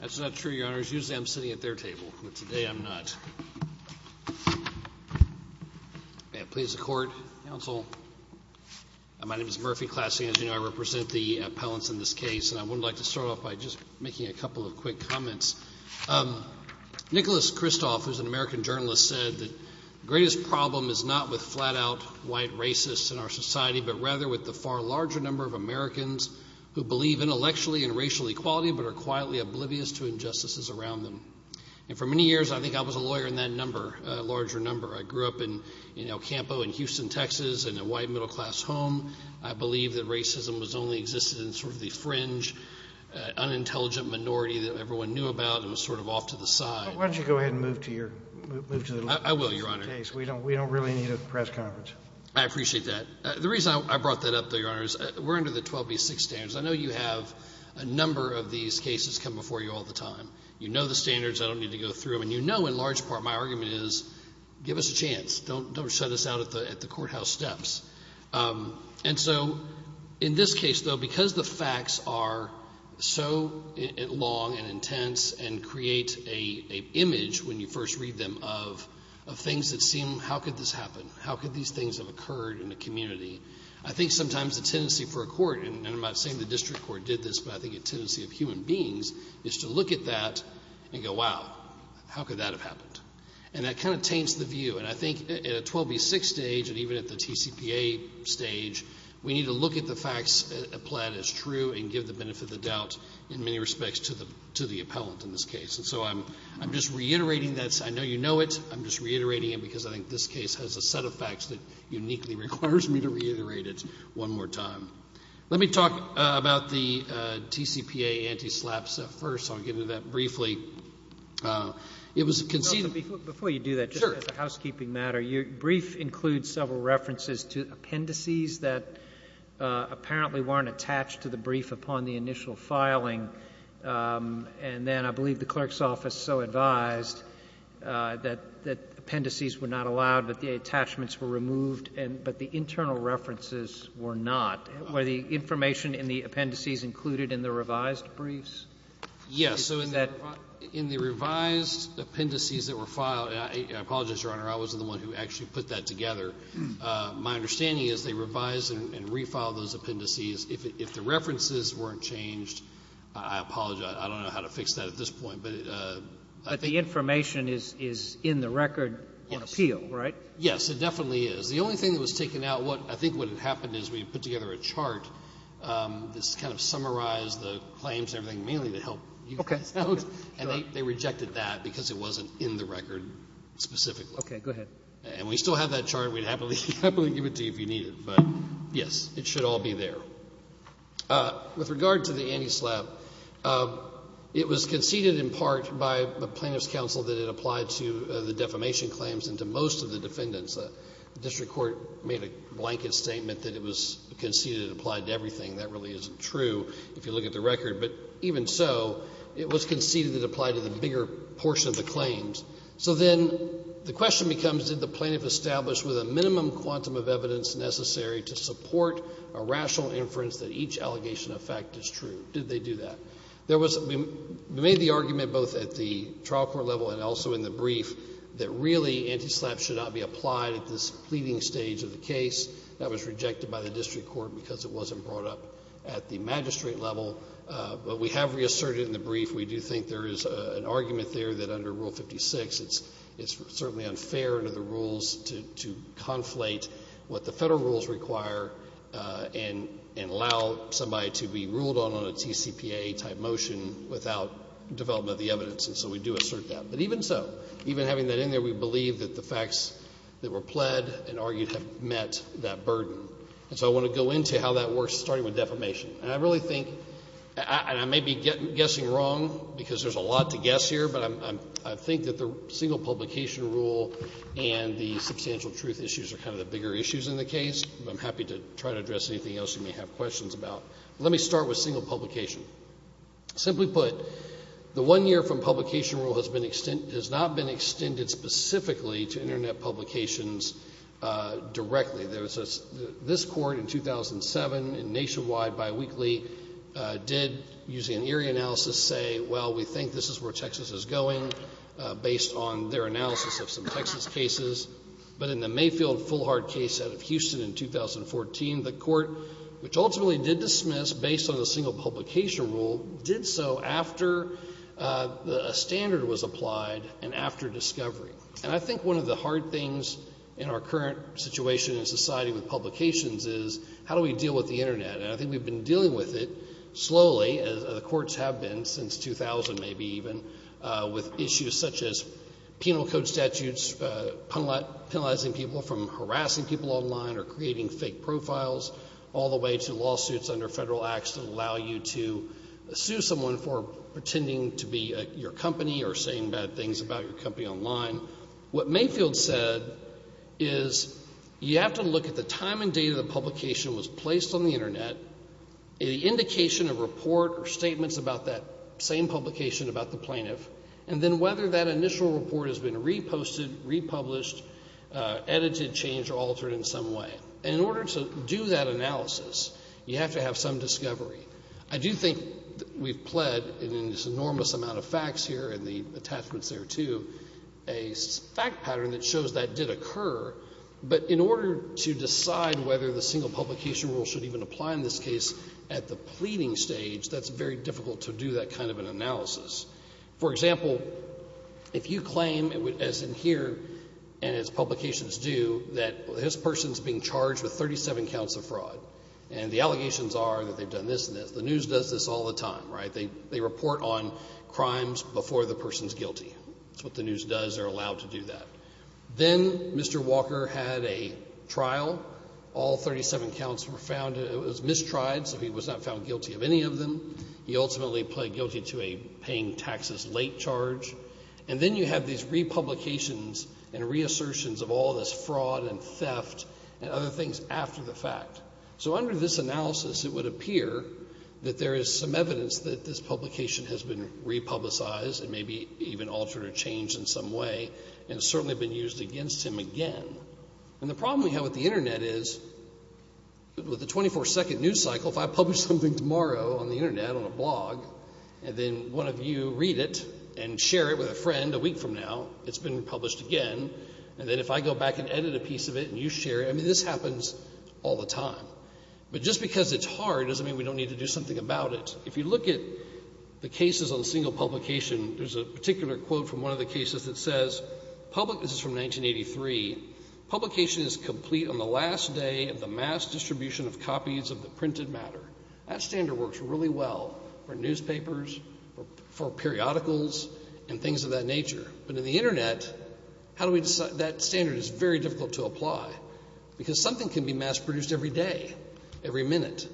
That's not true, Your Honors. Usually I'm sitting at their table, but today I'm not. May it please the Court, Counsel. My name is Murphy Classing. As you know, I represent the appellants in this case. And I would like to start off by just making a couple of quick comments. Nicholas Kristof, who's an American journalist, said that the greatest problem is not with flat-out white racists in our society, but rather with the far larger number of Americans who believe intellectually in racial equality but are quietly oblivious to injustices around them. And for many years, I think I was a lawyer in that number, a larger number. I grew up in El Campo in Houston, Texas, in a white, middle-class home. I believe that racism has only existed in sort of the fringe, unintelligent minority that everyone knew about and was sort of off to the side. Why don't you go ahead and move to your – move to the – I will, Your Honor. We don't really need a press conference. I appreciate that. The reason I brought that up, though, Your Honor, is we're under the 12B6 standards. I know you have a number of these cases come before you all the time. You know the standards. I don't need to go through them. And you know in large part my argument is give us a chance. Don't shut us out at the courthouse steps. And so in this case, though, because the facts are so long and intense and create an image when you first read them of things that seem, how could this happen? How could these things have occurred in a community? I think sometimes the tendency for a court, and I'm not saying the district court did this, but I think a tendency of human beings is to look at that and go, wow, how could that have happened? And that kind of taints the view. And I think at a 12B6 stage and even at the TCPA stage, we need to look at the facts applied as true and give the benefit of the doubt in many respects to the appellant in this case. And so I'm just reiterating that. I know you know it. I'm just reiterating it because I think this case has a set of facts that uniquely requires me to reiterate it one more time. Let me talk about the TCPA anti-SLAP stuff first. I'll get into that briefly. It was conceived of. Before you do that, just as a housekeeping matter, your brief includes several references to appendices that apparently weren't attached to the brief upon the initial filing. And then I believe the clerk's office so advised that appendices were not allowed, that the attachments were removed, but the internal references were not. Were the information in the appendices included in the revised briefs? Yes. So in the revised appendices that were filed, and I apologize, Your Honor. I wasn't the one who actually put that together. My understanding is they revised and refiled those appendices. If the references weren't changed, I apologize. I don't know how to fix that at this point. But I think the information is in the record on appeal, right? Yes, it definitely is. The only thing that was taken out, I think what had happened is we put together a chart that kind of summarized the claims and everything, mainly to help you guys out. And they rejected that because it wasn't in the record specifically. Okay. Go ahead. And we still have that chart. We'd happily give it to you if you need it. But, yes, it should all be there. With regard to the anti-SLAPP, it was conceded in part by the Plaintiff's Counsel that it applied to the defamation claims and to most of the defendants. The district court made a blanket statement that it was conceded it applied to everything. That really isn't true if you look at the record. But even so, it was conceded it applied to the bigger portion of the claims. So then the question becomes did the plaintiff establish with a minimum quantum of evidence necessary to support a rational inference that each allegation of fact is true? Did they do that? We made the argument both at the trial court level and also in the brief that really anti-SLAPP should not be applied at this pleading stage of the case. That was rejected by the district court because it wasn't brought up at the magistrate level. But we have reasserted in the brief we do think there is an argument there that under Rule 56, it's certainly unfair under the rules to conflate what the federal rules require and allow somebody to be ruled on on a TCPA type motion without development of the evidence. And so we do assert that. But even so, even having that in there, we believe that the facts that were pled and argued have met that burden. And so I want to go into how that works starting with defamation. And I really think, and I may be guessing wrong because there's a lot to guess here, but I think that the single publication rule and the substantial truth issues are kind of the bigger issues in the case. I'm happy to try to address anything else you may have questions about. Let me start with single publication. Simply put, the one year from publication rule has not been extended specifically to Internet publications directly. This court in 2007 in nationwide biweekly did, using an eerie analysis, say, well, we think this is where Texas is going, based on their analysis of some Texas cases. But in the Mayfield-Fullhard case out of Houston in 2014, the court, which ultimately did dismiss based on the single publication rule, did so after a standard was applied and after discovery. And I think one of the hard things in our current situation in society with publications is how do we deal with the Internet? And I think we've been dealing with it slowly, as the courts have been since 2000 maybe even, with issues such as penal code statutes, penalizing people from harassing people online or creating fake profiles, all the way to lawsuits under federal acts that allow you to sue someone for pretending to be your company or saying bad things about your company online. What Mayfield said is you have to look at the time and date of the publication was placed on the Internet, the indication of report or statements about that same publication about the plaintiff, and then whether that initial report has been reposted, republished, edited, changed, or altered in some way. And in order to do that analysis, you have to have some discovery. I do think we've pled in this enormous amount of facts here and the attachments there too a fact pattern that shows that did occur, but in order to decide whether the single publication rule should even apply in this case at the pleading stage, that's very difficult to do that kind of an analysis. For example, if you claim, as in here and as publications do, that this person is being charged with 37 counts of fraud and the allegations are that they've done this and this. The news does this all the time, right? They report on crimes before the person's guilty. That's what the news does. They're allowed to do that. Then Mr. Walker had a trial. All 37 counts were found. It was mistried, so he was not found guilty of any of them. He ultimately pled guilty to a paying taxes late charge. And then you have these republications and reassertions of all this fraud and theft and other things after the fact. So under this analysis, it would appear that there is some evidence that this publication has been republicized and maybe even altered or changed in some way and certainly been used against him again. And the problem we have with the Internet is with the 24-second news cycle, if I publish something tomorrow on the Internet on a blog and then one of you read it and share it with a friend a week from now, it's been published again, and then if I go back and edit a piece of it and you share it, I mean this happens all the time. But just because it's hard doesn't mean we don't need to do something about it. If you look at the cases on single publication, there's a particular quote from one of the cases that says, this is from 1983, publication is complete on the last day of the mass distribution of copies of the printed matter. That standard works really well for newspapers, for periodicals, and things of that nature. But in the Internet, that standard is very difficult to apply. Because something can be mass produced every day, every minute.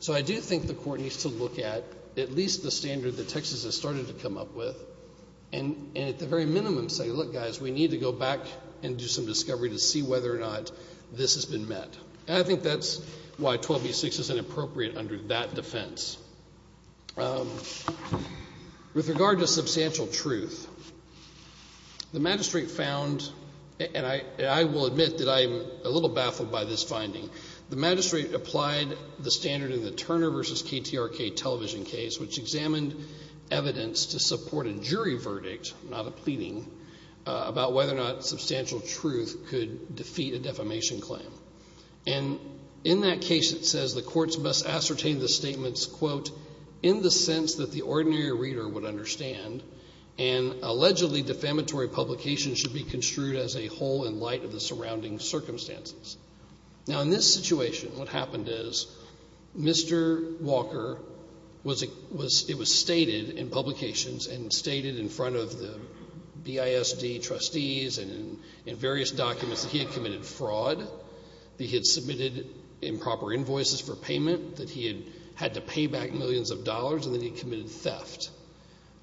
So I do think the Court needs to look at at least the standard that Texas has started to come up with and at the very minimum say, look, guys, we need to go back and do some discovery to see whether or not this has been met. And I think that's why 12b-6 is inappropriate under that defense. With regard to substantial truth, the magistrate found, and I will admit that I'm a little baffled by this finding, the magistrate applied the standard in the Turner v. KTRK television case, which examined evidence to support a jury verdict, not a pleading, about whether or not substantial truth could defeat a defamation claim. And in that case, it says the courts must ascertain the statements, quote, in the sense that the ordinary reader would understand, and allegedly defamatory publications should be construed as a whole in light of the surrounding circumstances. Now, in this situation, what happened is Mr. Walker, it was stated in publications and stated in front of the BISD trustees and in various documents that he had committed fraud, that he had submitted improper invoices for payment, that he had had to pay back millions of dollars, and that he had committed theft.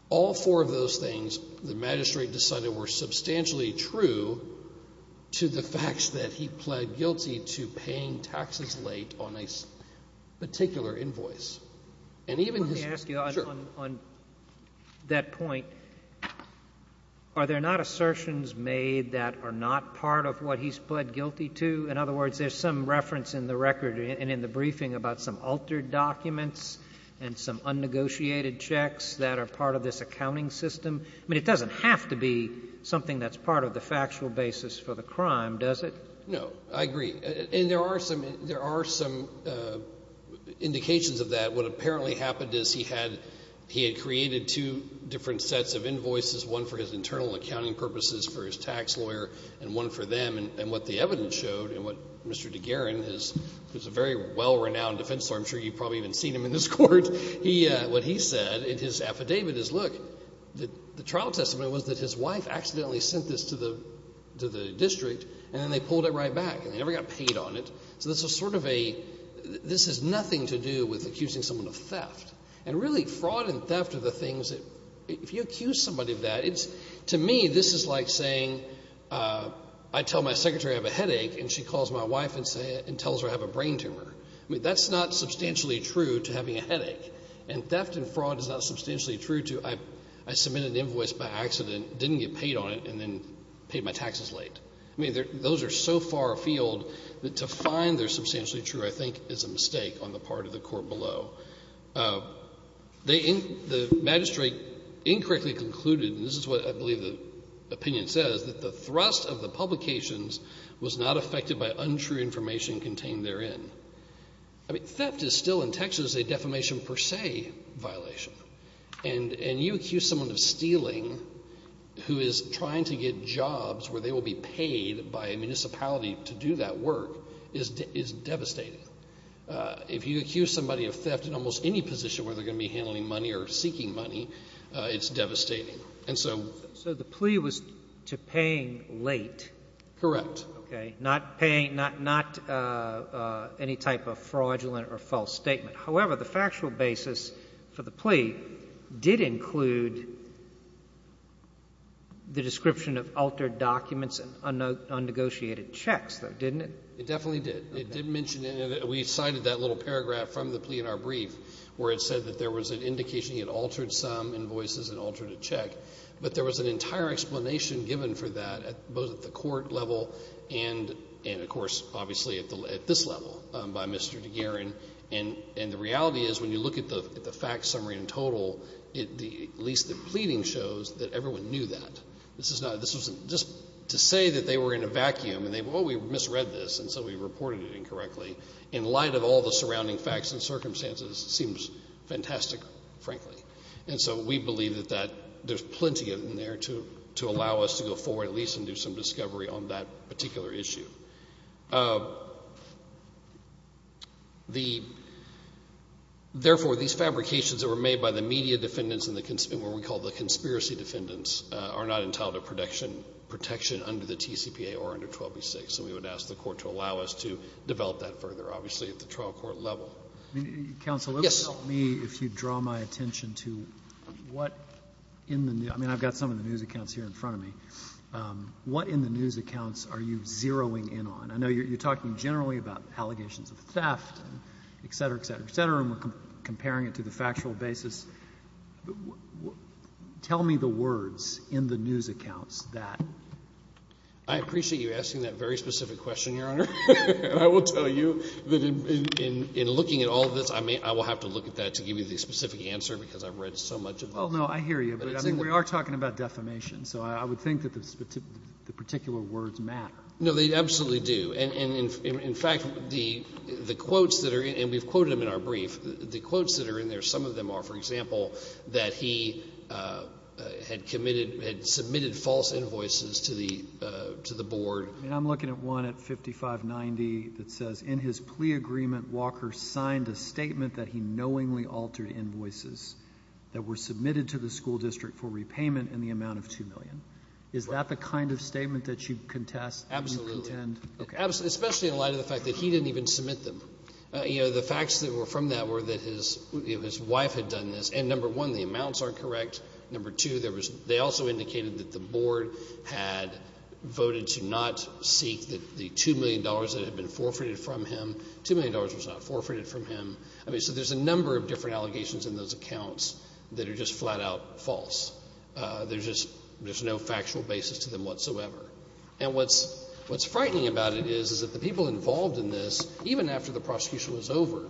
All four of those things the magistrate decided were substantially true to the fact that he pled guilty to paying taxes late on a particular invoice. And even his – Let me ask you on that point. Are there not assertions made that are not part of what he's pled guilty to? In other words, there's some reference in the record and in the briefing about some altered documents and some unnegotiated checks that are part of this accounting system. I mean, it doesn't have to be something that's part of the factual basis for the crime, does it? No. I agree. And there are some indications of that. What apparently happened is he had created two different sets of invoices, one for his internal accounting purposes for his tax lawyer and one for them. And what the evidence showed, and what Mr. DeGaran, who's a very well-renowned defense lawyer, I'm sure you've probably even seen him in this court, what he said in his affidavit is, look, the trial testimony was that his wife accidentally sent this to the district and then they pulled it right back and they never got paid on it. So this is sort of a – this has nothing to do with accusing someone of theft. And really, fraud and theft are the things that – if you accuse somebody of that, to me this is like saying I tell my secretary I have a headache and she calls my wife and tells her I have a brain tumor. I mean, that's not substantially true to having a headache. And theft and fraud is not substantially true to I submitted an invoice by accident, didn't get paid on it, and then paid my taxes late. I mean, those are so far afield that to find they're substantially true, I think, is a mistake on the part of the court below. The magistrate incorrectly concluded, and this is what I believe the opinion says, that the thrust of the publications was not affected by untrue information contained therein. I mean, theft is still in Texas a defamation per se violation. And you accuse someone of stealing who is trying to get jobs where they will be paid by a municipality to do that work is devastating. If you accuse somebody of theft in almost any position where they're going to be handling money or seeking money, it's devastating. So the plea was to paying late? Correct. Okay. Not any type of fraudulent or false statement. However, the factual basis for the plea did include the description of altered documents and unnegotiated checks, though, didn't it? It definitely did. It did mention it. We cited that little paragraph from the plea in our brief where it said that there was an indication he had altered some invoices and altered a check. But there was an entire explanation given for that both at the court level and, of course, obviously at this level by Mr. DeGuerin. And the reality is when you look at the fact summary in total, at least the pleading shows that everyone knew that. This was just to say that they were in a vacuum and, oh, we misread this, and so we reported it incorrectly, in light of all the surrounding facts and circumstances. It seems fantastic, frankly. And so we believe that there's plenty in there to allow us to go forward at least and do some discovery on that particular issue. Therefore, these fabrications that were made by the media defendants and what we call the conspiracy defendants are not entitled to protection under the TCPA or under 12b-6, and so we would ask the Court to allow us to develop that further, obviously, at the trial court level. Yes. Counsel, it would help me if you'd draw my attention to what in the news — I mean, I've got some of the news accounts here in front of me. What in the news accounts are you zeroing in on? I know you're talking generally about allegations of theft, et cetera, et cetera, et cetera, and we're comparing it to the factual basis. Tell me the words in the news accounts that — I appreciate you asking that very specific question, Your Honor. I will tell you that in looking at all of this, I will have to look at that to give you the specific answer because I've read so much of it. Well, no, I hear you, but I think we are talking about defamation, so I would think that the particular words matter. No, they absolutely do. And in fact, the quotes that are in — and we've quoted them in our brief. The quotes that are in there, some of them are, for example, that he had committed — had submitted false invoices to the board. I mean, I'm looking at one at 5590 that says, in his plea agreement, Walker signed a statement that he knowingly altered invoices that were submitted to the school district for repayment in the amount of $2 million. Is that the kind of statement that you contest and contend? Absolutely. Especially in light of the fact that he didn't even submit them. The facts that were from that were that his wife had done this, and number one, the amounts are correct. Number two, they also indicated that the board had voted to not seek the $2 million that had been forfeited from him. $2 million was not forfeited from him. So there's a number of different allegations in those accounts that are just flat-out false. There's no factual basis to them whatsoever. And what's frightening about it is that the people involved in this, even after the prosecution was over,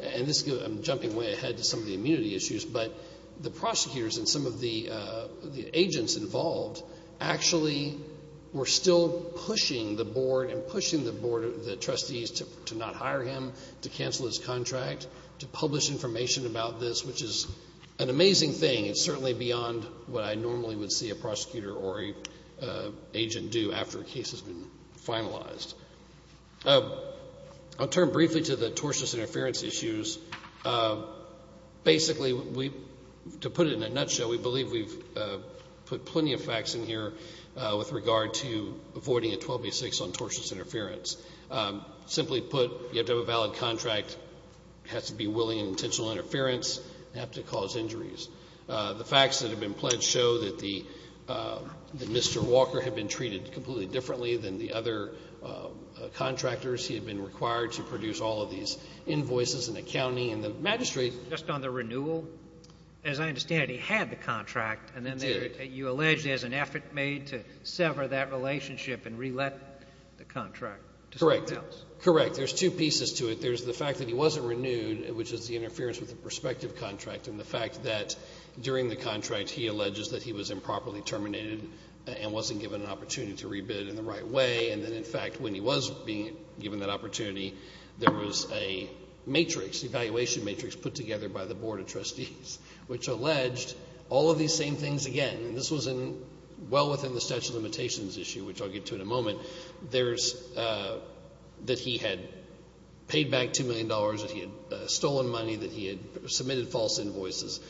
and I'm jumping way ahead to some of the immunity issues, but the prosecutors and some of the agents involved actually were still pushing the board and pushing the trustees to not hire him, to cancel his contract, to publish information about this, which is an amazing thing. It's certainly beyond what I normally would see a prosecutor or an agent do after a case has been finalized. I'll turn briefly to the tortious interference issues. Basically, to put it in a nutshell, we believe we've put plenty of facts in here with regard to avoiding a 12B6 on tortious interference. Simply put, you have to have a valid contract, it has to be willing and intentional interference, and it has to cause injuries. The facts that have been pledged show that Mr. Walker had been treated completely differently than the other contractors. He had been required to produce all of these invoices and accounting, and the magistrate Just on the renewal, as I understand it, he had the contract. He did. You allege there's an effort made to sever that relationship and re-let the contract to someone else. Correct. There's two pieces to it. There's the fact that he wasn't renewed, which is the interference with the prospective contract, and the fact that during the contract he alleges that he was improperly terminated and wasn't given an opportunity to re-bid in the right way, and that, in fact, when he was being given that opportunity, there was a matrix, an evaluation matrix put together by the Board of Trustees, which alleged all of these same things again. This was well within the statute of limitations issue, which I'll get to in a moment. There's that he had paid back $2 million, that he had stolen money, that he had submitted false invoices,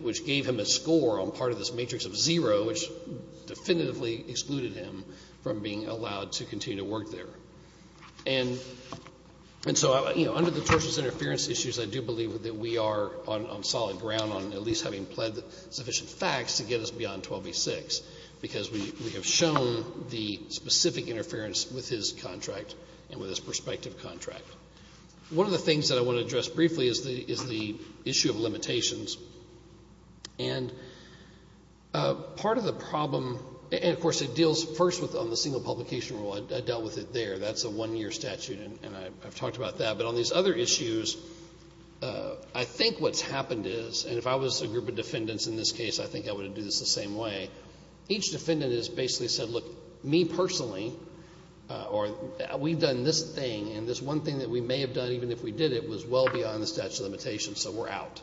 which gave him a score on part of this matrix of zero, which definitively excluded him from being allowed to continue to work there. And so, you know, under the tortious interference issues, I do believe that we are on solid ground on at least having pled sufficient facts to get us beyond 12v6, because we have shown the specific interference with his contract and with his prospective contract. One of the things that I want to address briefly is the issue of limitations. And part of the problem, and, of course, it deals first on the single publication rule. I dealt with it there. That's a one-year statute, and I've talked about that. But on these other issues, I think what's happened is, and if I was a group of defendants in this case, I think I would do this the same way. Each defendant has basically said, look, me personally, or we've done this thing, and this one thing that we may have done, even if we did it, was well beyond the statute of limitations, so we're out.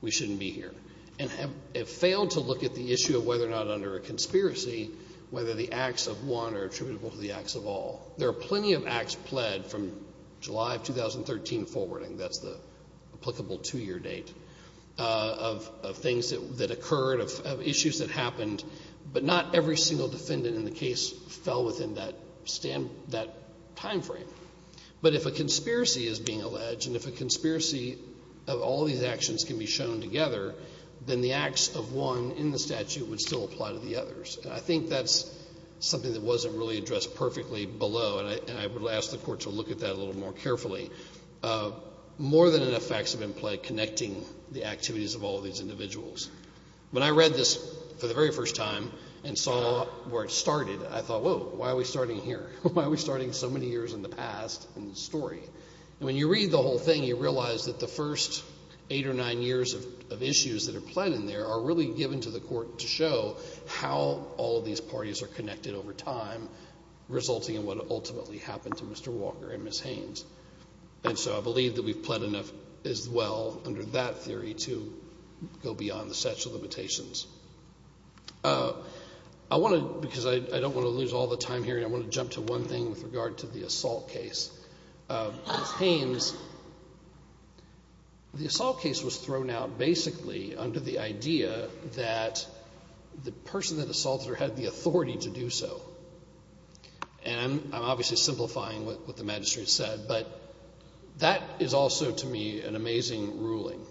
We shouldn't be here. And have failed to look at the issue of whether or not under a conspiracy, whether the acts of one are attributable to the acts of all. There are plenty of acts pled from July of 2013 forwarding. That's the applicable two-year date of things that occurred, of issues that happened. But not every single defendant in the case fell within that timeframe. But if a conspiracy is being alleged, and if a conspiracy of all these actions can be shown together, then the acts of one in the statute would still apply to the others. And I think that's something that wasn't really addressed perfectly below, and I would ask the Court to look at that a little more carefully. More than enough facts have been pled connecting the activities of all these individuals. When I read this for the very first time and saw where it started, I thought, whoa, why are we starting here? Why are we starting so many years in the past in the story? And when you read the whole thing, you realize that the first eight or nine years of issues that are pled in there are really given to the Court to show how all of these parties are connected over time, resulting in what ultimately happened to Mr. Walker and Ms. Haynes. And so I believe that we've pled enough as well under that theory to go beyond the statute of limitations. I want to, because I don't want to lose all the time here, I want to jump to one thing with regard to the assault case. Ms. Haynes, the assault case was thrown out basically under the idea that the person that assaulted her had the authority to do so. And I'm obviously simplifying what the magistrate said, but that is also to me an amazing ruling.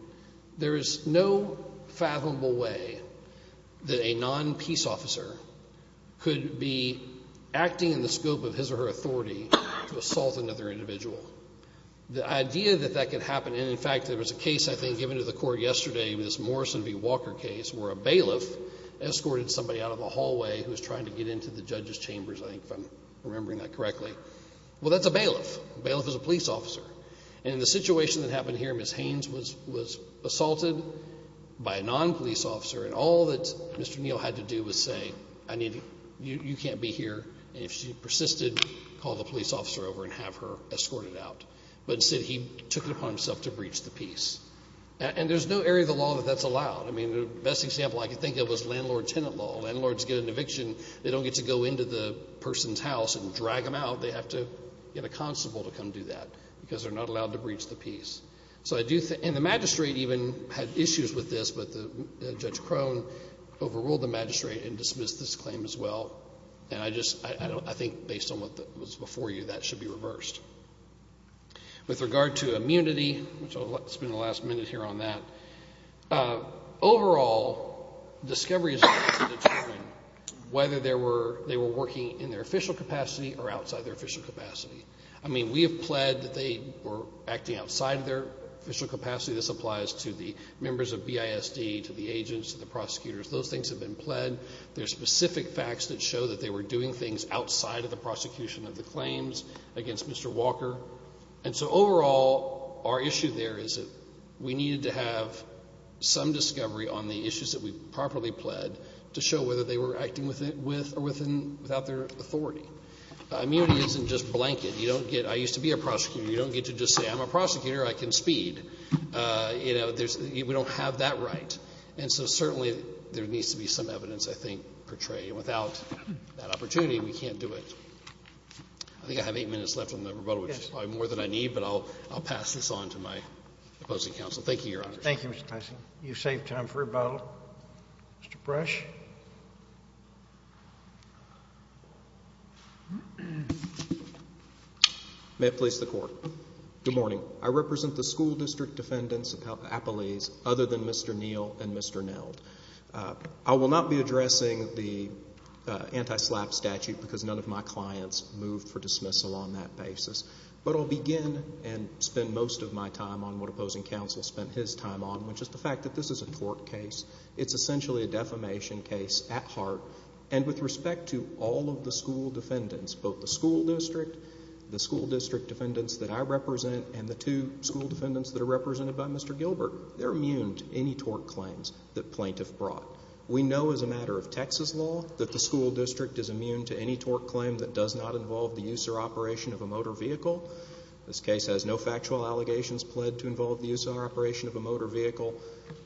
There is no fathomable way that a non-peace officer could be acting in the scope of his or her authority to assault another individual. The idea that that could happen, and in fact there was a case I think given to the Court yesterday with this Morrison v. Walker case where a bailiff escorted somebody out of the hallway who was trying to get into the judge's chambers, I think if I'm remembering that correctly. Well, that's a bailiff. A bailiff is a police officer. And in the situation that happened here, Ms. Haynes was assaulted by a non-police officer, and all that Mr. Neal had to do was say, you can't be here, and if she persisted, call the police officer over and have her escorted out. But instead he took it upon himself to breach the peace. And there's no area of the law that that's allowed. I mean, the best example I could think of was landlord-tenant law. Landlords get an eviction. They don't get to go into the person's house and drag them out. They have to get a constable to come do that because they're not allowed to breach the peace. And the magistrate even had issues with this, but Judge Crone overruled the magistrate and dismissed this claim as well. And I think based on what was before you, that should be reversed. With regard to immunity, which I'll spend the last minute here on that, overall, discovery is about to determine whether they were working in their official capacity or outside their official capacity. I mean, we have pled that they were acting outside their official capacity. This applies to the members of BISD, to the agents, to the prosecutors. Those things have been pled. There are specific facts that show that they were doing things outside of the prosecution of the claims against Mr. Walker. And so overall, our issue there is that we needed to have some discovery on the issues that we properly pled to show whether they were acting with or without their authority. Immunity isn't just blanket. You don't get, I used to be a prosecutor. You don't get to just say, I'm a prosecutor. I can speed. We don't have that right. And so certainly there needs to be some evidence, I think, portrayed. Without that opportunity, we can't do it. I think I have eight minutes left on the rebuttal, which is probably more than I need, but I'll pass this on to my opposing counsel. Thank you, Your Honor. Thank you, Mr. Tyson. You've saved time for rebuttal. Mr. Brush? May it please the Court. Good morning. I represent the school district defendants, appellees, other than Mr. Neal and Mr. Neld. I will not be addressing the anti-SLAPP statute because none of my clients moved for dismissal on that basis, but I'll begin and spend most of my time on what opposing counsel spent his time on, which is the fact that this is a tort case. It's essentially a defamation case at heart, and with respect to all of the school defendants, both the school district, the school district defendants that I represent, and the two school defendants that are represented by Mr. Gilbert, they're immune to any tort claims that plaintiff brought. We know as a matter of Texas law that the school district is immune to any tort claim that does not involve the use or operation of a motor vehicle. This case has no factual allegations pled to involve the use or operation of a motor vehicle,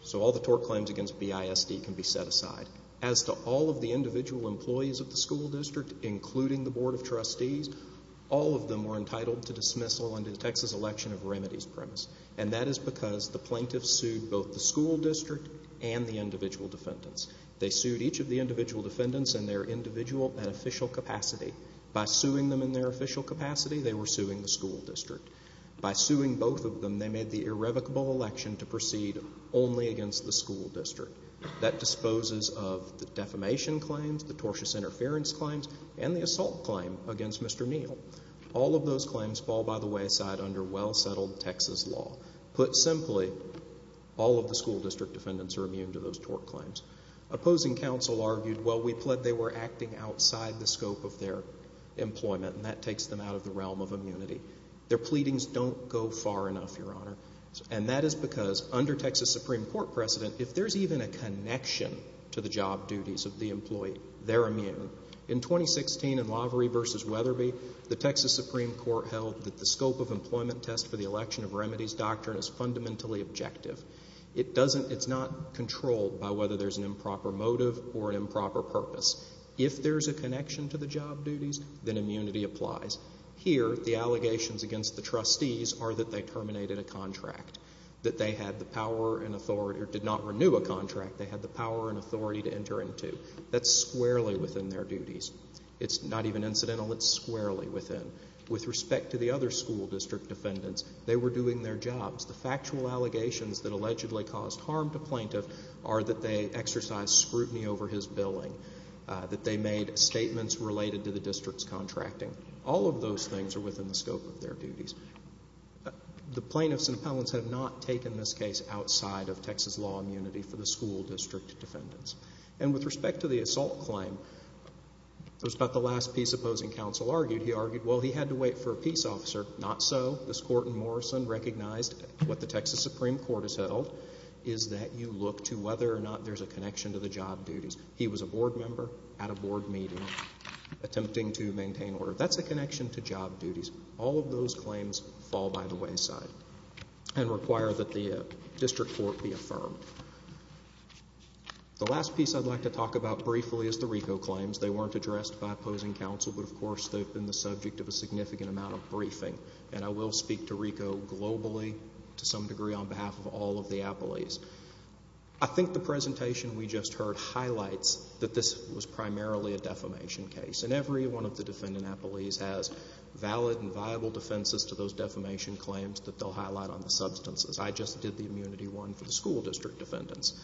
so all the tort claims against BISD can be set aside. As to all of the individual employees of the school district, including the Board of Trustees, all of them were entitled to dismissal under the Texas election of remedies premise, and that is because the plaintiffs sued both the school district and the individual defendants. They sued each of the individual defendants in their individual and official capacity. By suing them in their official capacity, they were suing the school district. By suing both of them, they made the irrevocable election to proceed only against the school district. That disposes of the defamation claims, the tortious interference claims, and the assault claim against Mr. Neal. All of those claims fall by the wayside under well-settled Texas law. Put simply, all of the school district defendants are immune to those tort claims. Opposing counsel argued, well, we pled they were acting outside the scope of their employment, and that takes them out of the realm of immunity. Their pleadings don't go far enough, Your Honor, and that is because under Texas Supreme Court precedent, if there's even a connection to the job duties of the employee, they're immune. In 2016 in Lavery v. Weatherby, the Texas Supreme Court held that the scope of employment test for the election of remedies doctrine is fundamentally objective. It doesn't, it's not controlled by whether there's an improper motive or an improper purpose. If there's a connection to the job duties, then immunity applies. Here, the allegations against the trustees are that they terminated a contract, that they had the power and authority, or did not renew a contract, they had the power and authority to enter into. That's squarely within their duties. It's not even incidental, it's squarely within. With respect to the other school district defendants, they were doing their jobs. The factual allegations that allegedly caused harm to plaintiff are that they exercised scrutiny over his billing, that they made statements related to the district's contracting. All of those things are within the scope of their duties. The plaintiffs and appellants have not taken this case outside of Texas law immunity for the school district defendants. And with respect to the assault claim, it was about the last peace opposing counsel argued. He argued, well, he had to wait for a peace officer. Not so. This court in Morrison recognized what the Texas Supreme Court has held, is that you look to whether or not there's a connection to the job duties. He was a board member at a board meeting attempting to maintain order. That's a connection to job duties. All of those claims fall by the wayside and require that the district court be affirmed. The last piece I'd like to talk about briefly is the RICO claims. They weren't addressed by opposing counsel, but, of course, they've been the subject of a significant amount of briefing. And I will speak to RICO globally to some degree on behalf of all of the appellees. I think the presentation we just heard highlights that this was primarily a defamation case. And every one of the defendant appellees has valid and viable defenses to those defamation claims that they'll highlight on the substances. I just did the immunity one for the school district defendants.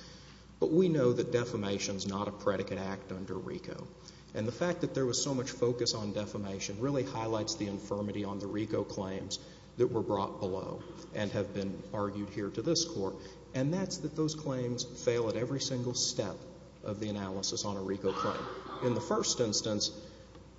But we know that defamation is not a predicate act under RICO. And the fact that there was so much focus on defamation really highlights the infirmity on the RICO claims that were brought below and have been argued here to this court. And that's that those claims fail at every single step of the analysis on a RICO claim. In the first instance,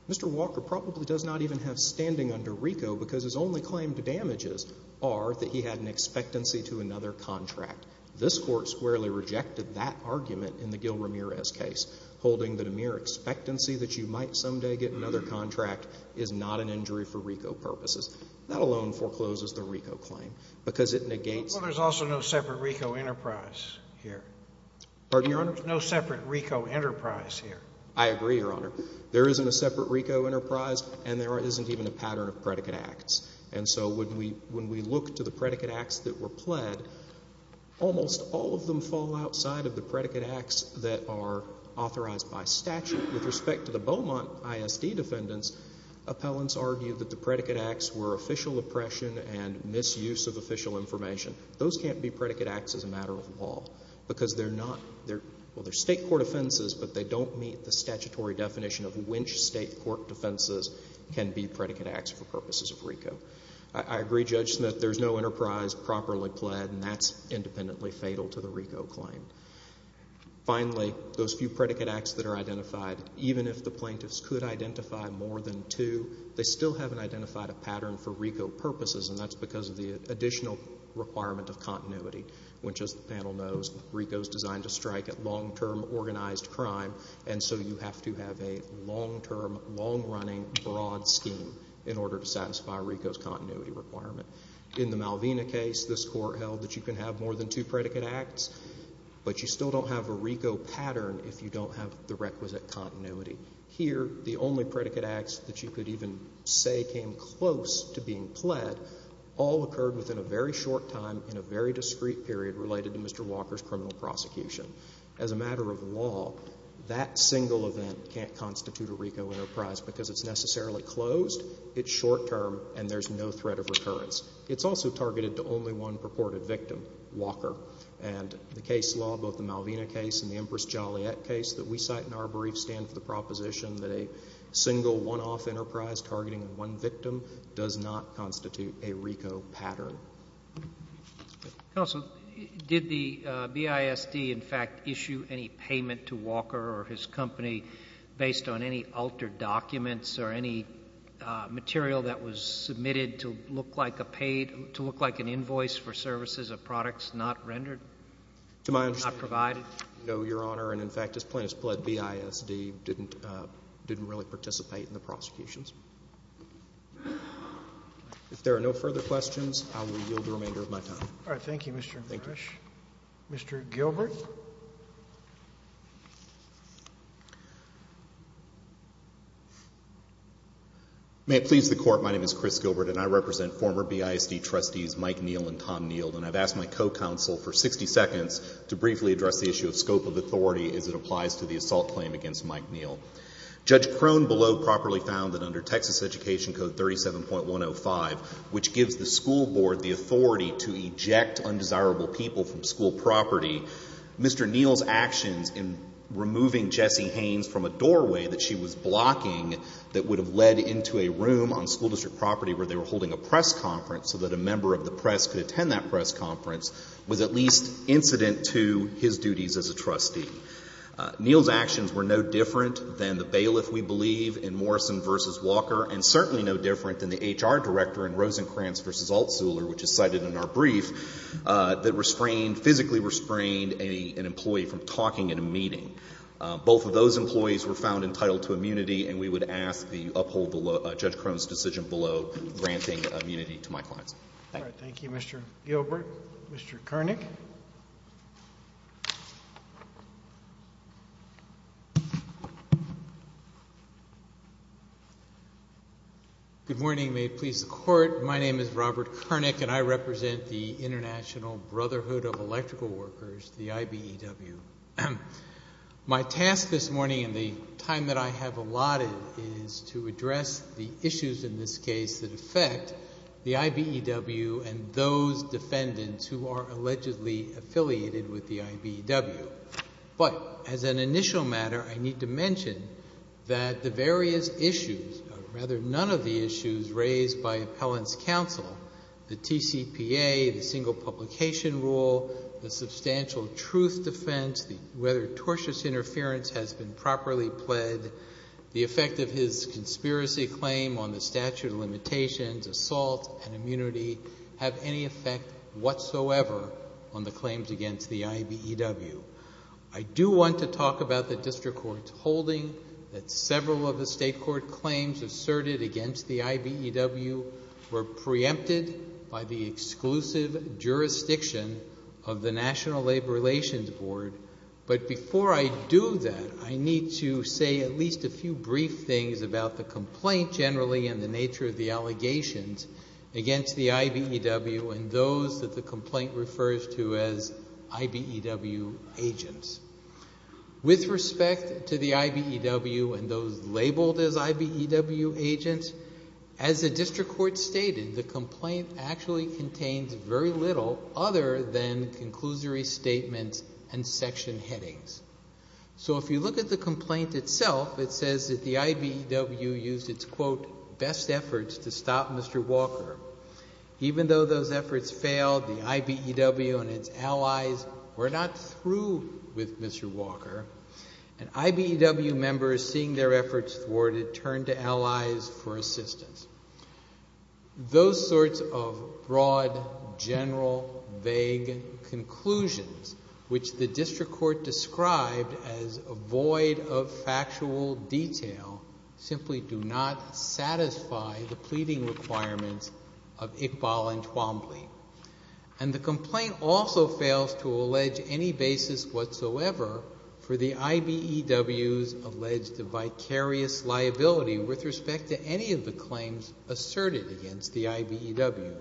Mr. Walker probably does not even have standing under RICO because his only claim to damages are that he had an expectancy to another contract. This court squarely rejected that argument in the Gil Ramirez case, holding that a mere expectancy that you might someday get another contract is not an injury for RICO purposes. That alone forecloses the RICO claim because it negates— Well, there's also no separate RICO enterprise here. Pardon me, Your Honor? There's no separate RICO enterprise here. I agree, Your Honor. There isn't a separate RICO enterprise, and there isn't even a pattern of predicate acts. And so when we look to the predicate acts that were pled, almost all of them fall outside of the predicate acts that are authorized by statute. With respect to the Beaumont ISD defendants, appellants argued that the predicate acts were official oppression and misuse of official information. Those can't be predicate acts as a matter of law because they're not— can be predicate acts for purposes of RICO. I agree, Judge Smith, there's no enterprise properly pled, and that's independently fatal to the RICO claim. Finally, those few predicate acts that are identified, even if the plaintiffs could identify more than two, they still haven't identified a pattern for RICO purposes, and that's because of the additional requirement of continuity, which, as the panel knows, RICO is designed to strike at long-term organized crime, and so you have to have a long-term, long-running, broad scheme in order to satisfy RICO's continuity requirement. In the Malvina case, this court held that you can have more than two predicate acts, but you still don't have a RICO pattern if you don't have the requisite continuity. Here, the only predicate acts that you could even say came close to being pled all occurred within a very short time in a very discreet period related to Mr. Walker's criminal prosecution. As a matter of law, that single event can't constitute a RICO enterprise because it's necessarily closed, it's short-term, and there's no threat of recurrence. It's also targeted to only one purported victim, Walker, and the case law, both the Malvina case and the Empress Joliet case that we cite in our brief stand for the proposition that a single one-off enterprise targeting one victim does not constitute a RICO pattern. Counsel, did the BISD, in fact, issue any payment to Walker or his company based on any altered documents or any material that was submitted to look like an invoice for services of products not rendered, not provided? To my understanding, no, Your Honor. And, in fact, his plaintiffs pled BISD didn't really participate in the prosecutions. If there are no further questions, I will yield the remainder of my time. All right. Thank you, Mr. Gersh. Thank you. Mr. Gilbert. May it please the Court, my name is Chris Gilbert and I represent former BISD trustees Mike Neal and Tom Neal, and I've asked my co-counsel for 60 seconds to briefly address the issue of scope of authority as it applies to the assault claim against Mike Neal. Judge Crone below properly found that under Texas Education Code 37.105, which gives the school board the authority to eject undesirable people from school property, Mr. Neal's actions in removing Jessie Haynes from a doorway that she was blocking that would have led into a room on school district property where they were holding a press conference so that a member of the press could attend that press conference was at least incident to his duties as a trustee. Neal's actions were no different than the bailiff, we believe, in Morrison v. Walker, and certainly no different than the HR director in Rosencrantz v. Altzuhler, which is cited in our brief, that physically restrained an employee from talking in a meeting. Both of those employees were found entitled to immunity and we would ask that you uphold Judge Crone's decision below granting immunity to my clients. Thank you. All right. Thank you, Mr. Gilbert. Mr. Koenig. Good morning. May it please the Court. My name is Robert Koenig and I represent the International Brotherhood of Electrical Workers, the IBEW. My task this morning and the time that I have allotted is to address the issues in this case that affect the IBEW and those defendants who are allegedly affiliated with the IBEW. But as an initial matter, I need to mention that the various issues, or rather none of the issues raised by appellant's counsel, the TCPA, the single publication rule, the substantial truth defense, whether tortious interference has been properly pled, the effect of his conspiracy claim on the statute of limitations, assault and immunity have any effect whatsoever on the claims against the IBEW. I do want to talk about the district court's holding that several of the state court claims asserted against the IBEW were preempted by the exclusive jurisdiction of the National Labor Relations Board. But before I do that, I need to say at least a few brief things about the complaint generally and the nature of the allegations against the IBEW and those that the complaint refers to as IBEW agents. With respect to the IBEW and those labeled as IBEW agents, as the district court stated, the complaint actually contains very little other than conclusory statements and section headings. So if you look at the complaint itself, it says that the IBEW used its, quote, efforts to stop Mr. Walker. Even though those efforts failed, the IBEW and its allies were not through with Mr. Walker. And IBEW members, seeing their efforts thwarted, turned to allies for assistance. Those sorts of broad, general, vague conclusions, which the district court described as a void of factual detail, simply do not satisfy the pleading requirements of Iqbal and Twombly. And the complaint also fails to allege any basis whatsoever for the IBEW's alleged vicarious liability with respect to any of the claims asserted against the IBEW.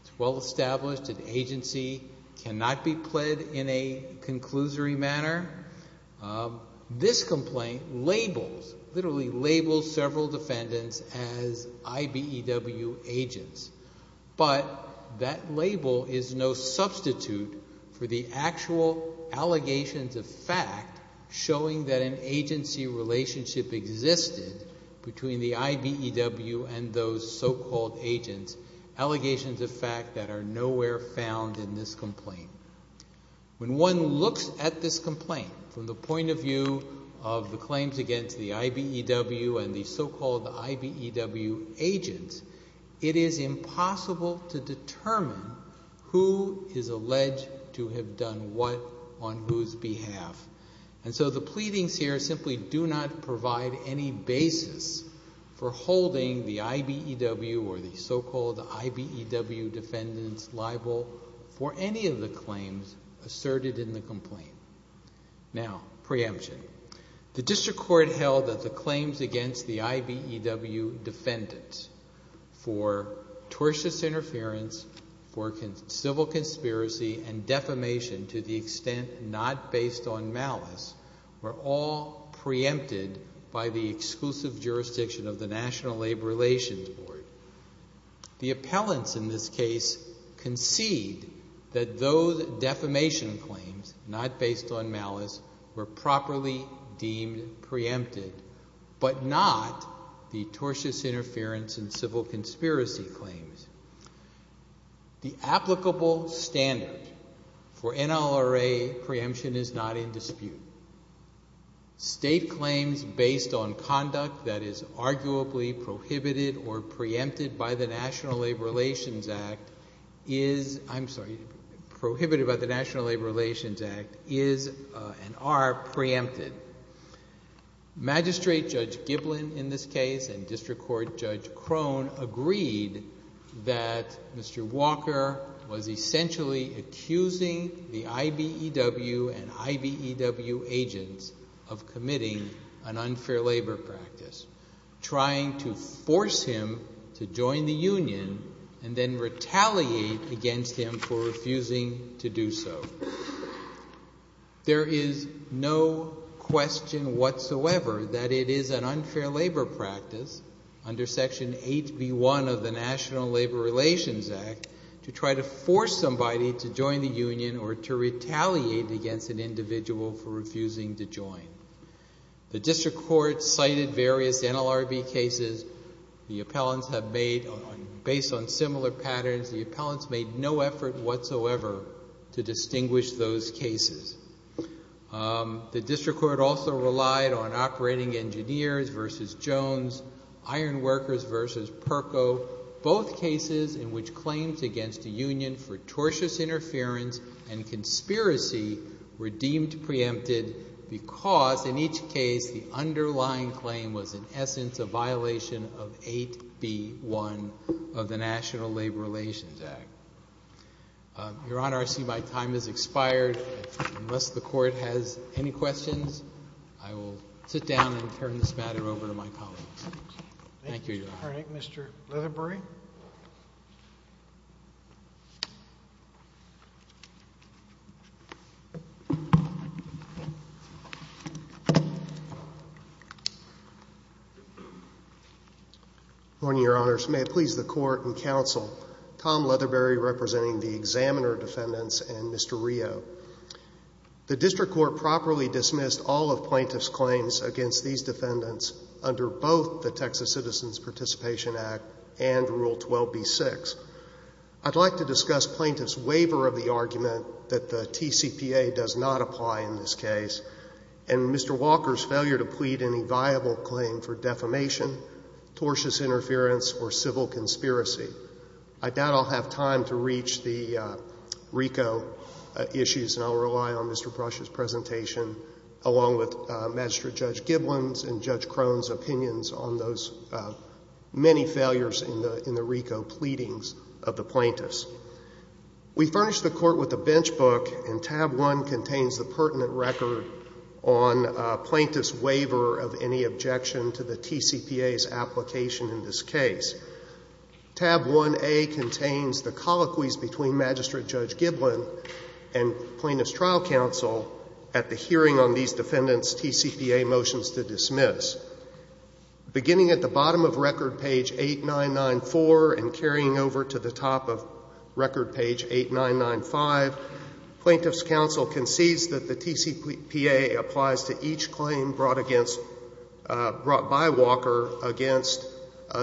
It's well established an agency cannot be pled in a conclusory manner. This complaint labels, literally labels, several defendants as IBEW agents. But that label is no substitute for the actual allegations of fact showing that an agency relationship existed between the IBEW and those so-called agents, allegations of fact that are nowhere found in this complaint. When one looks at this complaint from the point of view of the claims against the IBEW and the so-called IBEW agents, it is impossible to determine who is alleged to have done what on whose behalf. And so the pleadings here simply do not provide any basis for holding the IBEW or the so-called IBEW defendants liable for any of the claims asserted in the complaint. Now, preemption. The district court held that the claims against the IBEW defendants for tortious interference, for civil conspiracy, and defamation to the extent not based on malice were all preempted by the exclusive jurisdiction of the National Labor Relations Board. The appellants in this case concede that those defamation claims, not based on malice, were properly deemed preempted, but not the tortious interference and civil conspiracy claims. The applicable standard for NLRA preemption is not in dispute. State claims based on conduct that is arguably prohibited or preempted by the National Labor Relations Act is... I'm sorry, prohibited by the National Labor Relations Act is and are preempted. Magistrate Judge Giblin in this case and District Court Judge Crone agreed that Mr. Walker was essentially accusing the IBEW and IBEW agents of committing an unfair labor practice, trying to force him to join the union and then retaliate against him for refusing to do so. There is no question whatsoever that it is an unfair labor practice under Section 8B1 of the National Labor Relations Act to try to force somebody to join the union or to retaliate against an individual for refusing to join. The District Court cited various NLRB cases. The appellants have made, based on similar patterns, the appellants made no effort whatsoever to distinguish those cases. The District Court also relied on Operating Engineers v. Jones, Iron Workers v. Perko, both cases in which claims against the union for tortious interference and conspiracy were deemed preempted because in each case the underlying claim was in essence a violation of 8B1 of the National Labor Relations Act. Your Honor, I see my time has expired. Unless the Court has any questions, I will sit down and turn this matter over to my colleagues. Thank you, Your Honor. All right, Mr. Leatherbury. Good morning, Your Honors. May it please the Court and Counsel, Tom Leatherbury representing the Examiner defendants and Mr. Rio. The District Court properly dismissed all of plaintiffs' claims against these defendants under both the Texas Citizens Participation Act and Rule 12b-6. I'd like to discuss plaintiffs' waiver of the argument that the TCPA does not apply in this case and Mr. Walker's failure to plead any viable claim for defamation, tortious interference, or civil conspiracy. I doubt I'll have time to reach the RICO issues, and I'll rely on Mr. Brush's presentation along with Magistrate Judge Giblin's and Judge Krohn's opinions on those many failures in the RICO pleadings of the plaintiffs. We furnished the Court with a bench book, and tab 1 contains the pertinent record on a plaintiff's waiver of any objection to the TCPA's application in this case. Tab 1a contains the colloquies between Magistrate Judge Giblin and Plaintiff's Trial Counsel at the hearing on these defendants' TCPA motions to dismiss. Beginning at the bottom of record, page 8994, and carrying over to the top of record, page 8995, Plaintiff's Counsel concedes that the TCPA applies to each claim brought against by Walker against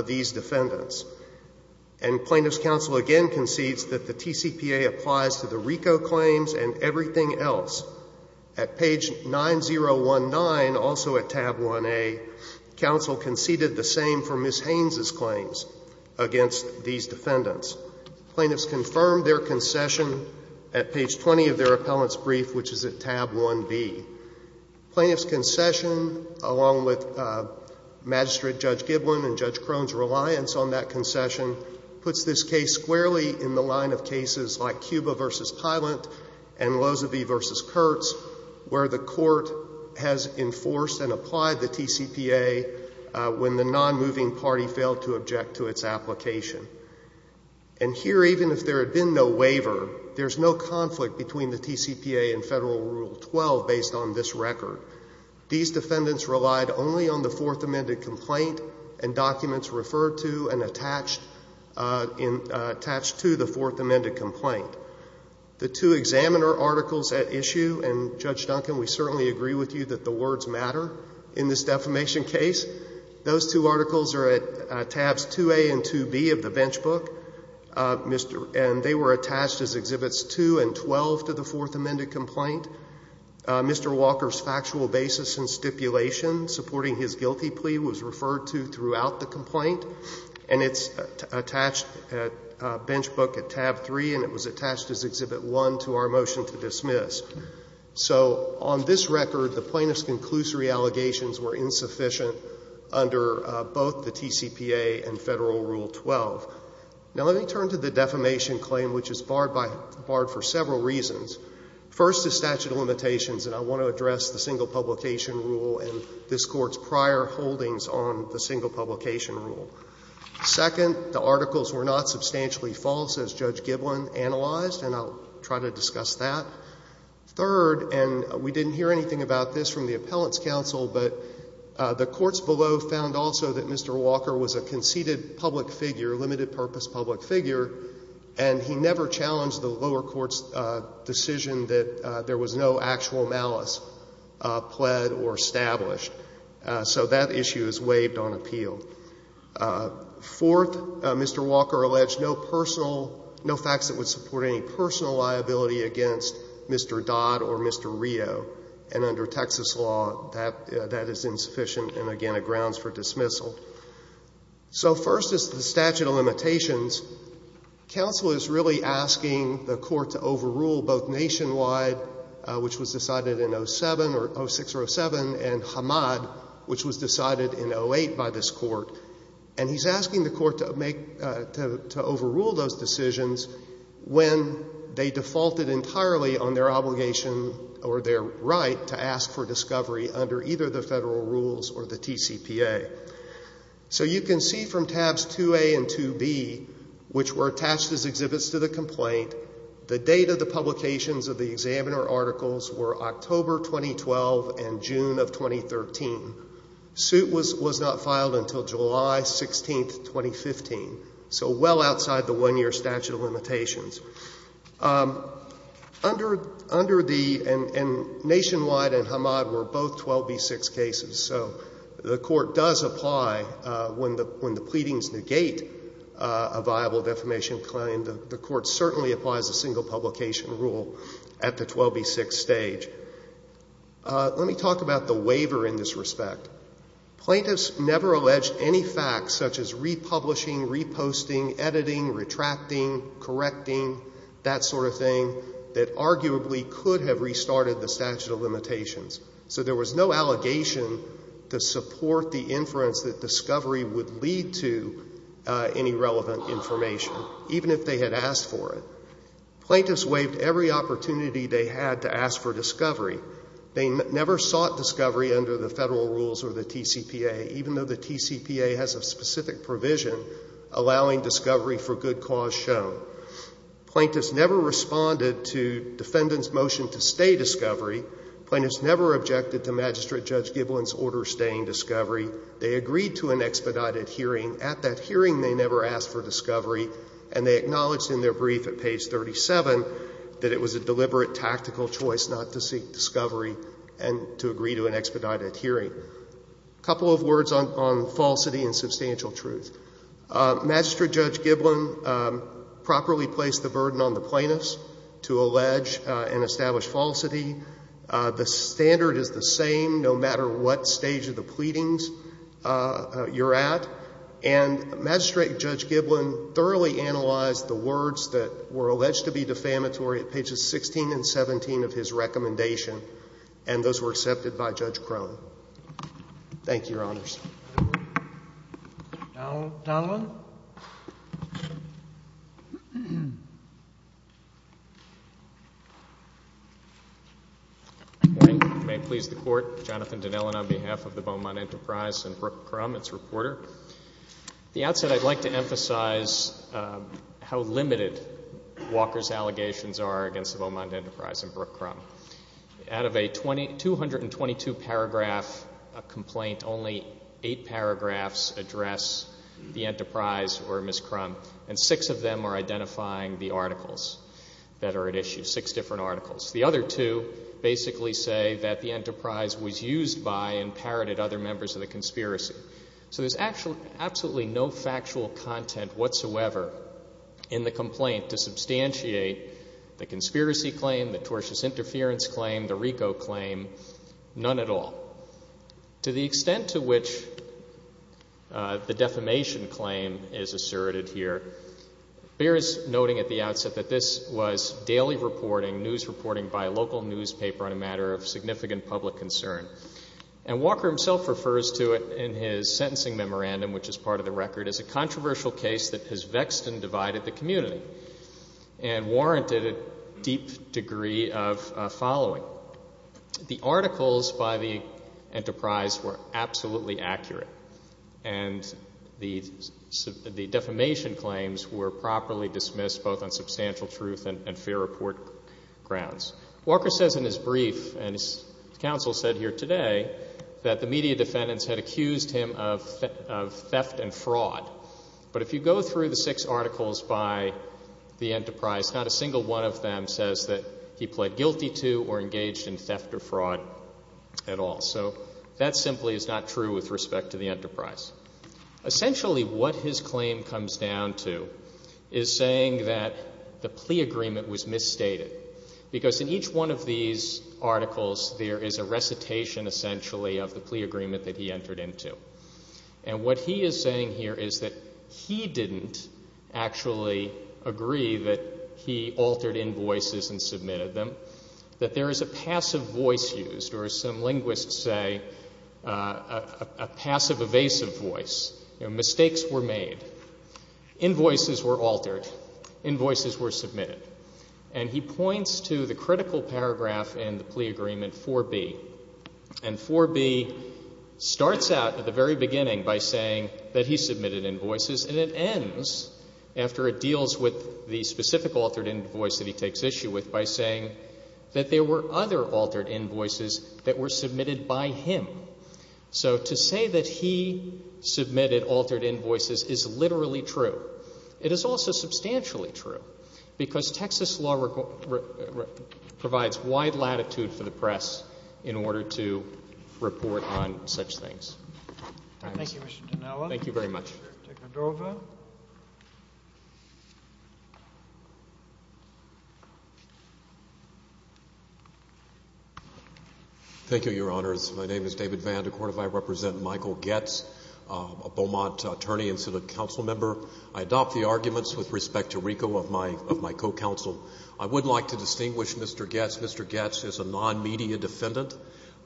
these defendants. And Plaintiff's Counsel again concedes that the TCPA applies to the RICO claims and everything else. At page 9019, also at tab 1a, Counsel conceded the same for Ms. Haynes' claims against these defendants. Plaintiffs confirmed their concession at page 20 of their appellant's brief, which is at tab 1b. Plaintiff's concession, along with Magistrate Judge Giblin and Judge Krohn's reliance on that concession, puts this case squarely in the line of cases like Cuba v. Pilant and Lozevy v. Kurtz, where the court has enforced and applied the TCPA when the nonmoving party failed to object to its application. And here, even if there had been no waiver, there's no conflict between the TCPA and Federal Rule 12 based on this record. These defendants relied only on the Fourth Amended Complaint and documents referred to and attached to the Fourth Amended Complaint. The two examiner articles at issue, and Judge Duncan, we certainly agree with you that the words matter in this defamation case, those two articles are at tabs 2a and 2b of the bench book, and they were attached as Exhibits 2 and 12 to the Fourth Amended Complaint. Mr. Walker's factual basis and stipulation supporting his guilty plea was referred to throughout the complaint, and it's attached at bench book at tab 3, and it was attached as Exhibit 1 to our motion to dismiss. So on this record, the plaintiff's conclusory allegations were insufficient under both the TCPA and Federal Rule 12. Now, let me turn to the defamation claim, which is barred for several reasons. First is statute of limitations, and I want to address the single publication rule and this Court's prior holdings on the single publication rule. Second, the articles were not substantially false, as Judge Giblin analyzed, and I'll try to discuss that. Third, and we didn't hear anything about this from the Appellant's counsel, but the courts below found also that Mr. Walker was a conceited public figure, limited-purpose public figure, and he never challenged the lower court's decision that there was no actual malice pled or established. So that issue is waived on appeal. Fourth, Mr. Walker alleged no facts that would support any personal liability against Mr. Dodd or Mr. Rio, and under Texas law, that is insufficient and, again, it grounds for dismissal. So first is the statute of limitations. Counsel is really asking the Court to overrule both Nationwide, which was decided in 06 or 07, and Hamad, which was decided in 08 by this Court, and he's asking the Court to overrule those decisions when they defaulted entirely on their obligation or their right to ask for discovery under either the federal rules or the TCPA. So you can see from tabs 2A and 2B, which were attached as exhibits to the complaint, the date of the publications of the examiner articles were October 2012 and June of 2013. The suit was not filed until July 16, 2015, so well outside the one-year statute of limitations. Under the... And Nationwide and Hamad were both 12B6 cases, so the Court does apply when the pleadings negate a viable defamation claim. The Court certainly applies a single publication rule at the 12B6 stage. Let me talk about the waiver in this respect. Plaintiffs never alleged any facts such as republishing, reposting, editing, retracting, correcting, that sort of thing, that arguably could have restarted the statute of limitations. So there was no allegation to support the inference that discovery would lead to any relevant information, even if they had asked for it. Plaintiffs waived every opportunity they had to ask for discovery. They never sought discovery under the federal rules or the TCPA, even though the TCPA has a specific provision allowing discovery for good cause shown. Plaintiffs never responded to defendants' motion to stay discovery. Plaintiffs never objected to Magistrate Judge Giblin's order staying discovery. They agreed to an expedited hearing. At that hearing, they never asked for discovery, and they acknowledged in their brief at page 37 that it was a deliberate tactical choice not to seek discovery and to agree to an expedited hearing. A couple of words on falsity and substantial truth. Magistrate Judge Giblin properly placed the burden on the plaintiffs to allege and establish falsity. The standard is the same, no matter what stage of the pleadings you're at. And Magistrate Judge Giblin thoroughly analyzed the words that were alleged to be defamatory at pages 16 and 17 of his recommendation, Thank you, Your Honors. Donald Donovan. Good morning. May it please the Court. Jonathan Donovan on behalf of the Beaumont Enterprise and Brooke Crum, its reporter. At the outset, I'd like to emphasize how limited Walker's allegations are against the Beaumont Enterprise and Brooke Crum. Out of a 222-paragraph complaint, only eight paragraphs address the Enterprise or Ms. Crum, and six of them are identifying the articles that are at issue, six different articles. The other two basically say that the Enterprise was used by and parroted other members of the conspiracy. So there's absolutely no factual content whatsoever in the complaint to substantiate the conspiracy claim, the tortious interference claim, the RICO claim, none at all. To the extent to which the defamation claim is asserted here, Beer is noting at the outset that this was daily reporting, news reporting by a local newspaper on a matter of significant public concern. And Walker himself refers to it in his sentencing memorandum, which is part of the record, as a controversial case that has vexed and divided the community and warranted a deep degree of following. So the articles by the Enterprise were absolutely accurate, and the defamation claims were properly dismissed, both on substantial truth and fair report grounds. Walker says in his brief, and his counsel said here today, that the media defendants had accused him of theft and fraud. Not a single one of them says that he pled guilty to or engaged in theft or fraud at all. So that simply is not true with respect to the Enterprise. Essentially what his claim comes down to is saying that the plea agreement was misstated, because in each one of these articles there is a recitation essentially of the plea agreement that he entered into. And what he is saying here is that he didn't actually agree that he altered invoices and submitted them, that there is a passive voice used, or as some linguists say, a passive evasive voice. Mistakes were made. Invoices were altered. Invoices were submitted. And he points to the critical paragraph in the plea agreement 4B. And 4B starts out at the very beginning by saying that he submitted invoices, and it ends, after it deals with the specific altered invoice that he takes issue with, by saying that there were other altered invoices that were submitted by him. So to say that he submitted altered invoices is literally true. It is also substantially true, because Texas law provides wide latitude for the press in order to report on such things. Thank you, Mr. Dinella. Thank you very much. Mr. DeCondrova. Thank you, Your Honors. My name is David Vandecourt. I represent Michael Goetz, a Beaumont attorney and Senate council member. I adopt the arguments with respect to Rico of my co-counsel. I would like to distinguish Mr. Goetz. Mr. Goetz is a non-media defendant,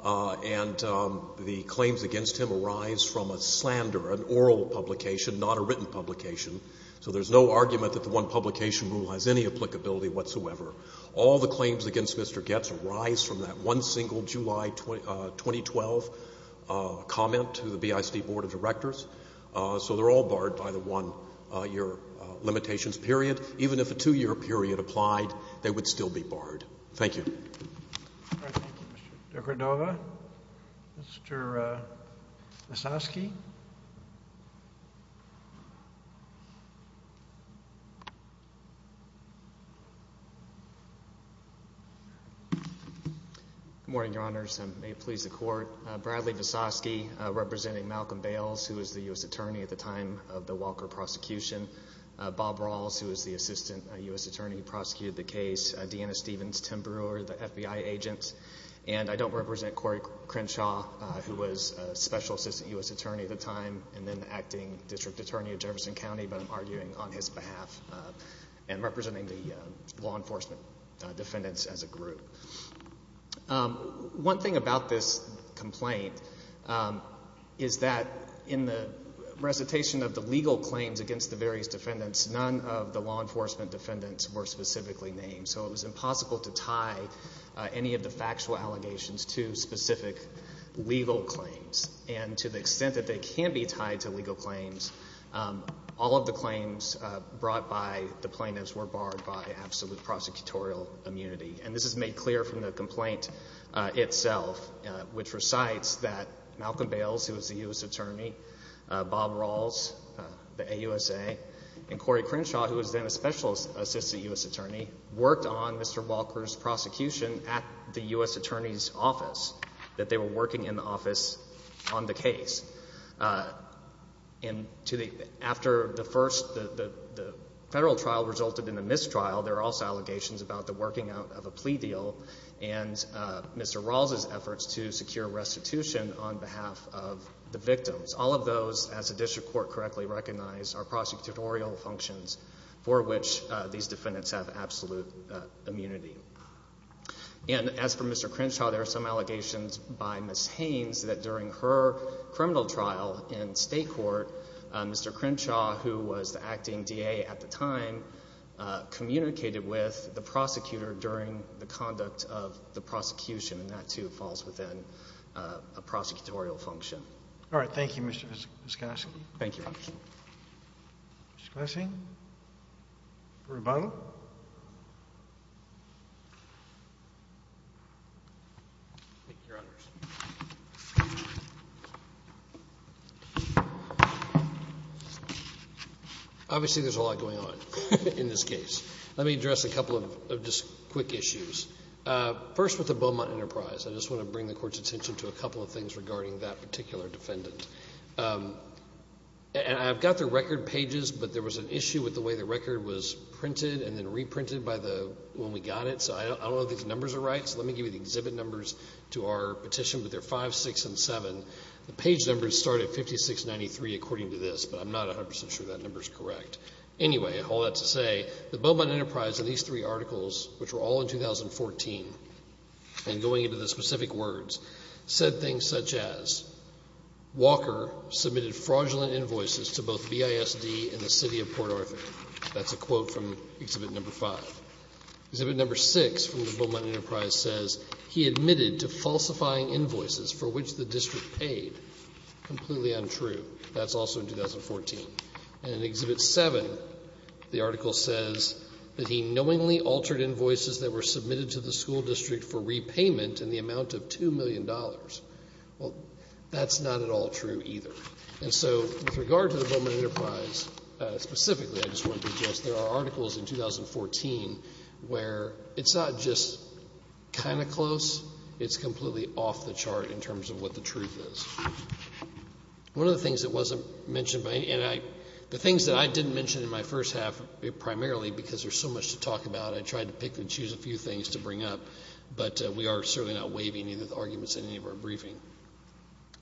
and the claims against him arise from a slander, an oral publication, not a written publication. So there's no argument that the one publication rule has any applicability whatsoever. All the claims against Mr. Goetz arise from that one single July 2012 comment to the BIC Board of Directors. So they're all barred by the one-year limitations period. Even if a two-year period applied, they would still be barred. Thank you. Thank you, Mr. DeCondrova. Mr. Visosky. Good morning, Your Honors, and may it please the Court. Bradley Visosky, representing Malcolm Bales, who was the U.S. attorney at the time of the Walker prosecution. Bob Rawls, who was the assistant U.S. attorney who prosecuted the case. Deanna Stevens, Tim Brewer, the FBI agents. And I don't represent Corey Crenshaw, who was special assistant U.S. attorney at the time and then the acting district attorney of Jefferson County, but I'm arguing on his behalf and representing the law enforcement defendants as a group. One thing about this complaint is that in the recitation of the legal claims against the various defendants, none of the law enforcement defendants were specifically named. So it was impossible to tie any of the factual allegations to specific legal claims. And to the extent that they can be tied to legal claims, all of the claims brought by the plaintiffs were barred by absolute prosecutorial immunity. And this is made clear from the complaint itself, which recites that Malcolm Bales, who was the U.S. attorney, Bob Rawls, the AUSA, and Corey Crenshaw, who was then a special assistant U.S. attorney, worked on Mr. Walker's prosecution at the U.S. attorney's office, that they were working in the office on the case. After the federal trial resulted in a mistrial, there are also allegations about the working out of a plea deal and Mr. Rawls's efforts to secure restitution on behalf of the victims. All of those, as the district court correctly recognized, are prosecutorial functions for which these defendants have absolute immunity. And as for Mr. Crenshaw, there are some allegations by Ms. Haynes that during her criminal trial in state court, Mr. Crenshaw, who was the acting DA at the time, communicated with the prosecutor during the conduct of the prosecution, and that, too, falls within a prosecutorial function. All right. Thank you, Mr. Skosky. Thank you. Mr. Skosky? Rebuttal? Thank you, Your Honors. Obviously, there's a lot going on in this case. Let me address a couple of just quick issues. First, with the Beaumont Enterprise, I just want to bring the Court's attention to a couple of things regarding that particular defendant. And I've got their record pages, but there was an issue with the way the record was printed and then reprinted when we got it, so I don't know if these numbers are right, so let me give you the exhibit numbers to our petition, but they're 5, 6, and 7. The page numbers start at 5693, according to this, but I'm not 100% sure that number is correct. Anyway, all that to say, the Beaumont Enterprise and these three articles, which were all in 2014, and going into the specific words, said things such as, That's a quote from exhibit number 5. Exhibit number 6 from the Beaumont Enterprise says, Completely untrue. That's also in 2014. And in exhibit 7, the article says, Well, that's not at all true either. And so with regard to the Beaumont Enterprise specifically, I just want to suggest there are articles in 2014 where it's not just kind of close, it's completely off the chart in terms of what the truth is. One of the things that wasn't mentioned, and the things that I didn't mention in my first half, primarily because there's so much to talk about, I tried to pick and choose a few things to bring up, but we are certainly not waiving any of the arguments in any of our briefing.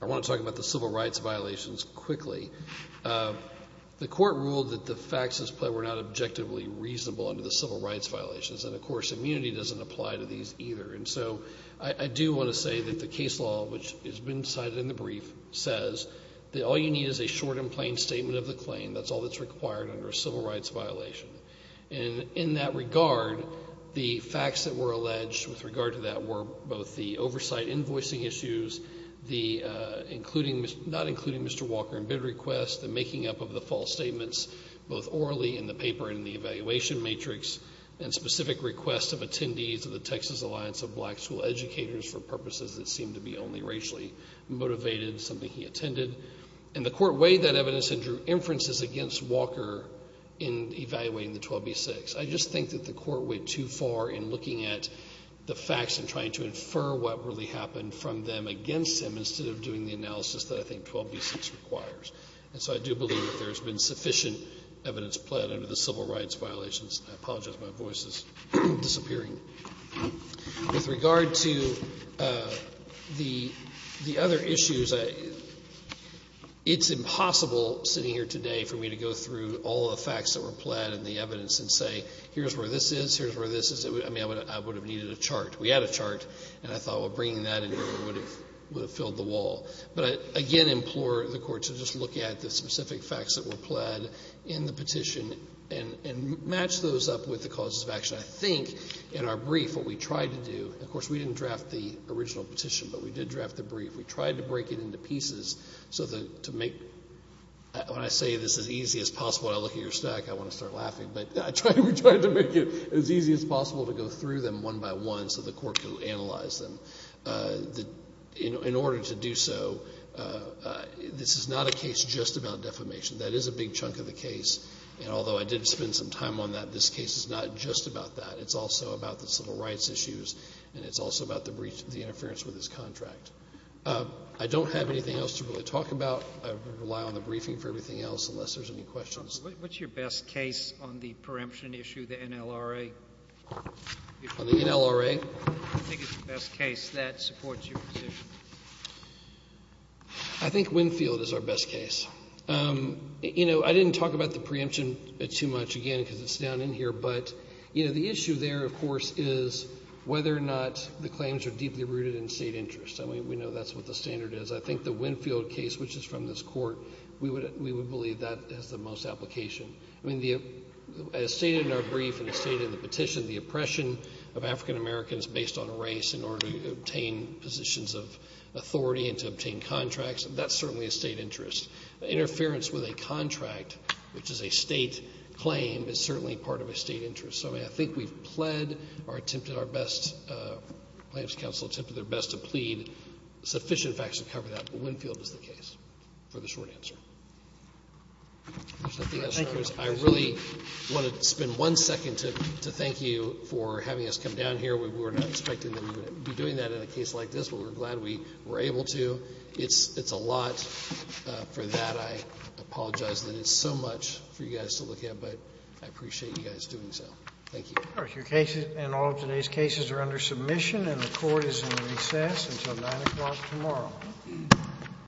I want to talk about the civil rights violations quickly. The court ruled that the facts as played were not objectively reasonable under the civil rights violations, and, of course, immunity doesn't apply to these either. And so I do want to say that the case law, which has been cited in the brief, says that all you need is a short and plain statement of the claim. That's all that's required under a civil rights violation. And in that regard, the facts that were alleged with regard to that were both the oversight invoicing issues, not including Mr. Walker in bid request, the making up of the false statements, both orally in the paper and in the evaluation matrix, and specific requests of attendees of the Texas Alliance of Black School Educators for purposes that seemed to be only racially motivated, something he attended. And the court weighed that evidence and drew inferences against Walker in evaluating the 12b-6. I just think that the court went too far in looking at the facts and trying to infer what really happened from them against him instead of doing the analysis that I think 12b-6 requires. And so I do believe that there has been sufficient evidence pled under the civil rights violations. I apologize, my voice is disappearing. With regard to the other issues, it's impossible sitting here today for me to go through all the facts that were pled and the evidence and say, here's where this is, here's where this is. I mean, I would have needed a chart. We had a chart, and I thought, well, bringing that in here would have filled the wall. But I again implore the court to just look at the specific facts that were pled in the petition and match those up with the causes of action. I think in our brief what we tried to do, of course, we didn't draft the original petition, but we did draft the brief. We tried to break it into pieces so that to make, when I say this as easy as possible, when I look at your stack I want to start laughing, but we tried to make it as easy as possible to go through them one by one so the court could analyze them. In order to do so, this is not a case just about defamation. That is a big chunk of the case, and although I did spend some time on that, this case is not just about that. It's also about the civil rights issues, and it's also about the interference with this contract. I don't have anything else to really talk about. I rely on the briefing for everything else unless there's any questions. What's your best case on the preemption issue, the NLRA? On the NLRA? I think it's the best case that supports your position. I think Winfield is our best case. You know, I didn't talk about the preemption too much, again, because it's down in here, but, you know, the issue there, of course, is whether or not the claims are deeply rooted in state interest. I mean, we know that's what the standard is. I think the Winfield case, which is from this court, we would believe that has the most application. I mean, as stated in our brief and as stated in the petition, the oppression of African Americans based on race in order to obtain positions of authority and to obtain contracts, that's certainly a state interest. Interference with a contract, which is a state claim, is certainly part of a state interest. So, I mean, I think we've pled or attempted our best. The plaintiffs' counsel attempted their best to plead sufficient facts to cover that, but Winfield is the case for the short answer. I really want to spend one second to thank you for having us come down here. We were not expecting that we would be doing that in a case like this, but we're glad we were able to. It's a lot for that. I apologize that it's so much for you guys to look at, but I appreciate you guys doing so. Thank you. All right. Your cases and all of today's cases are under submission and the court is in recess until 9 o'clock tomorrow.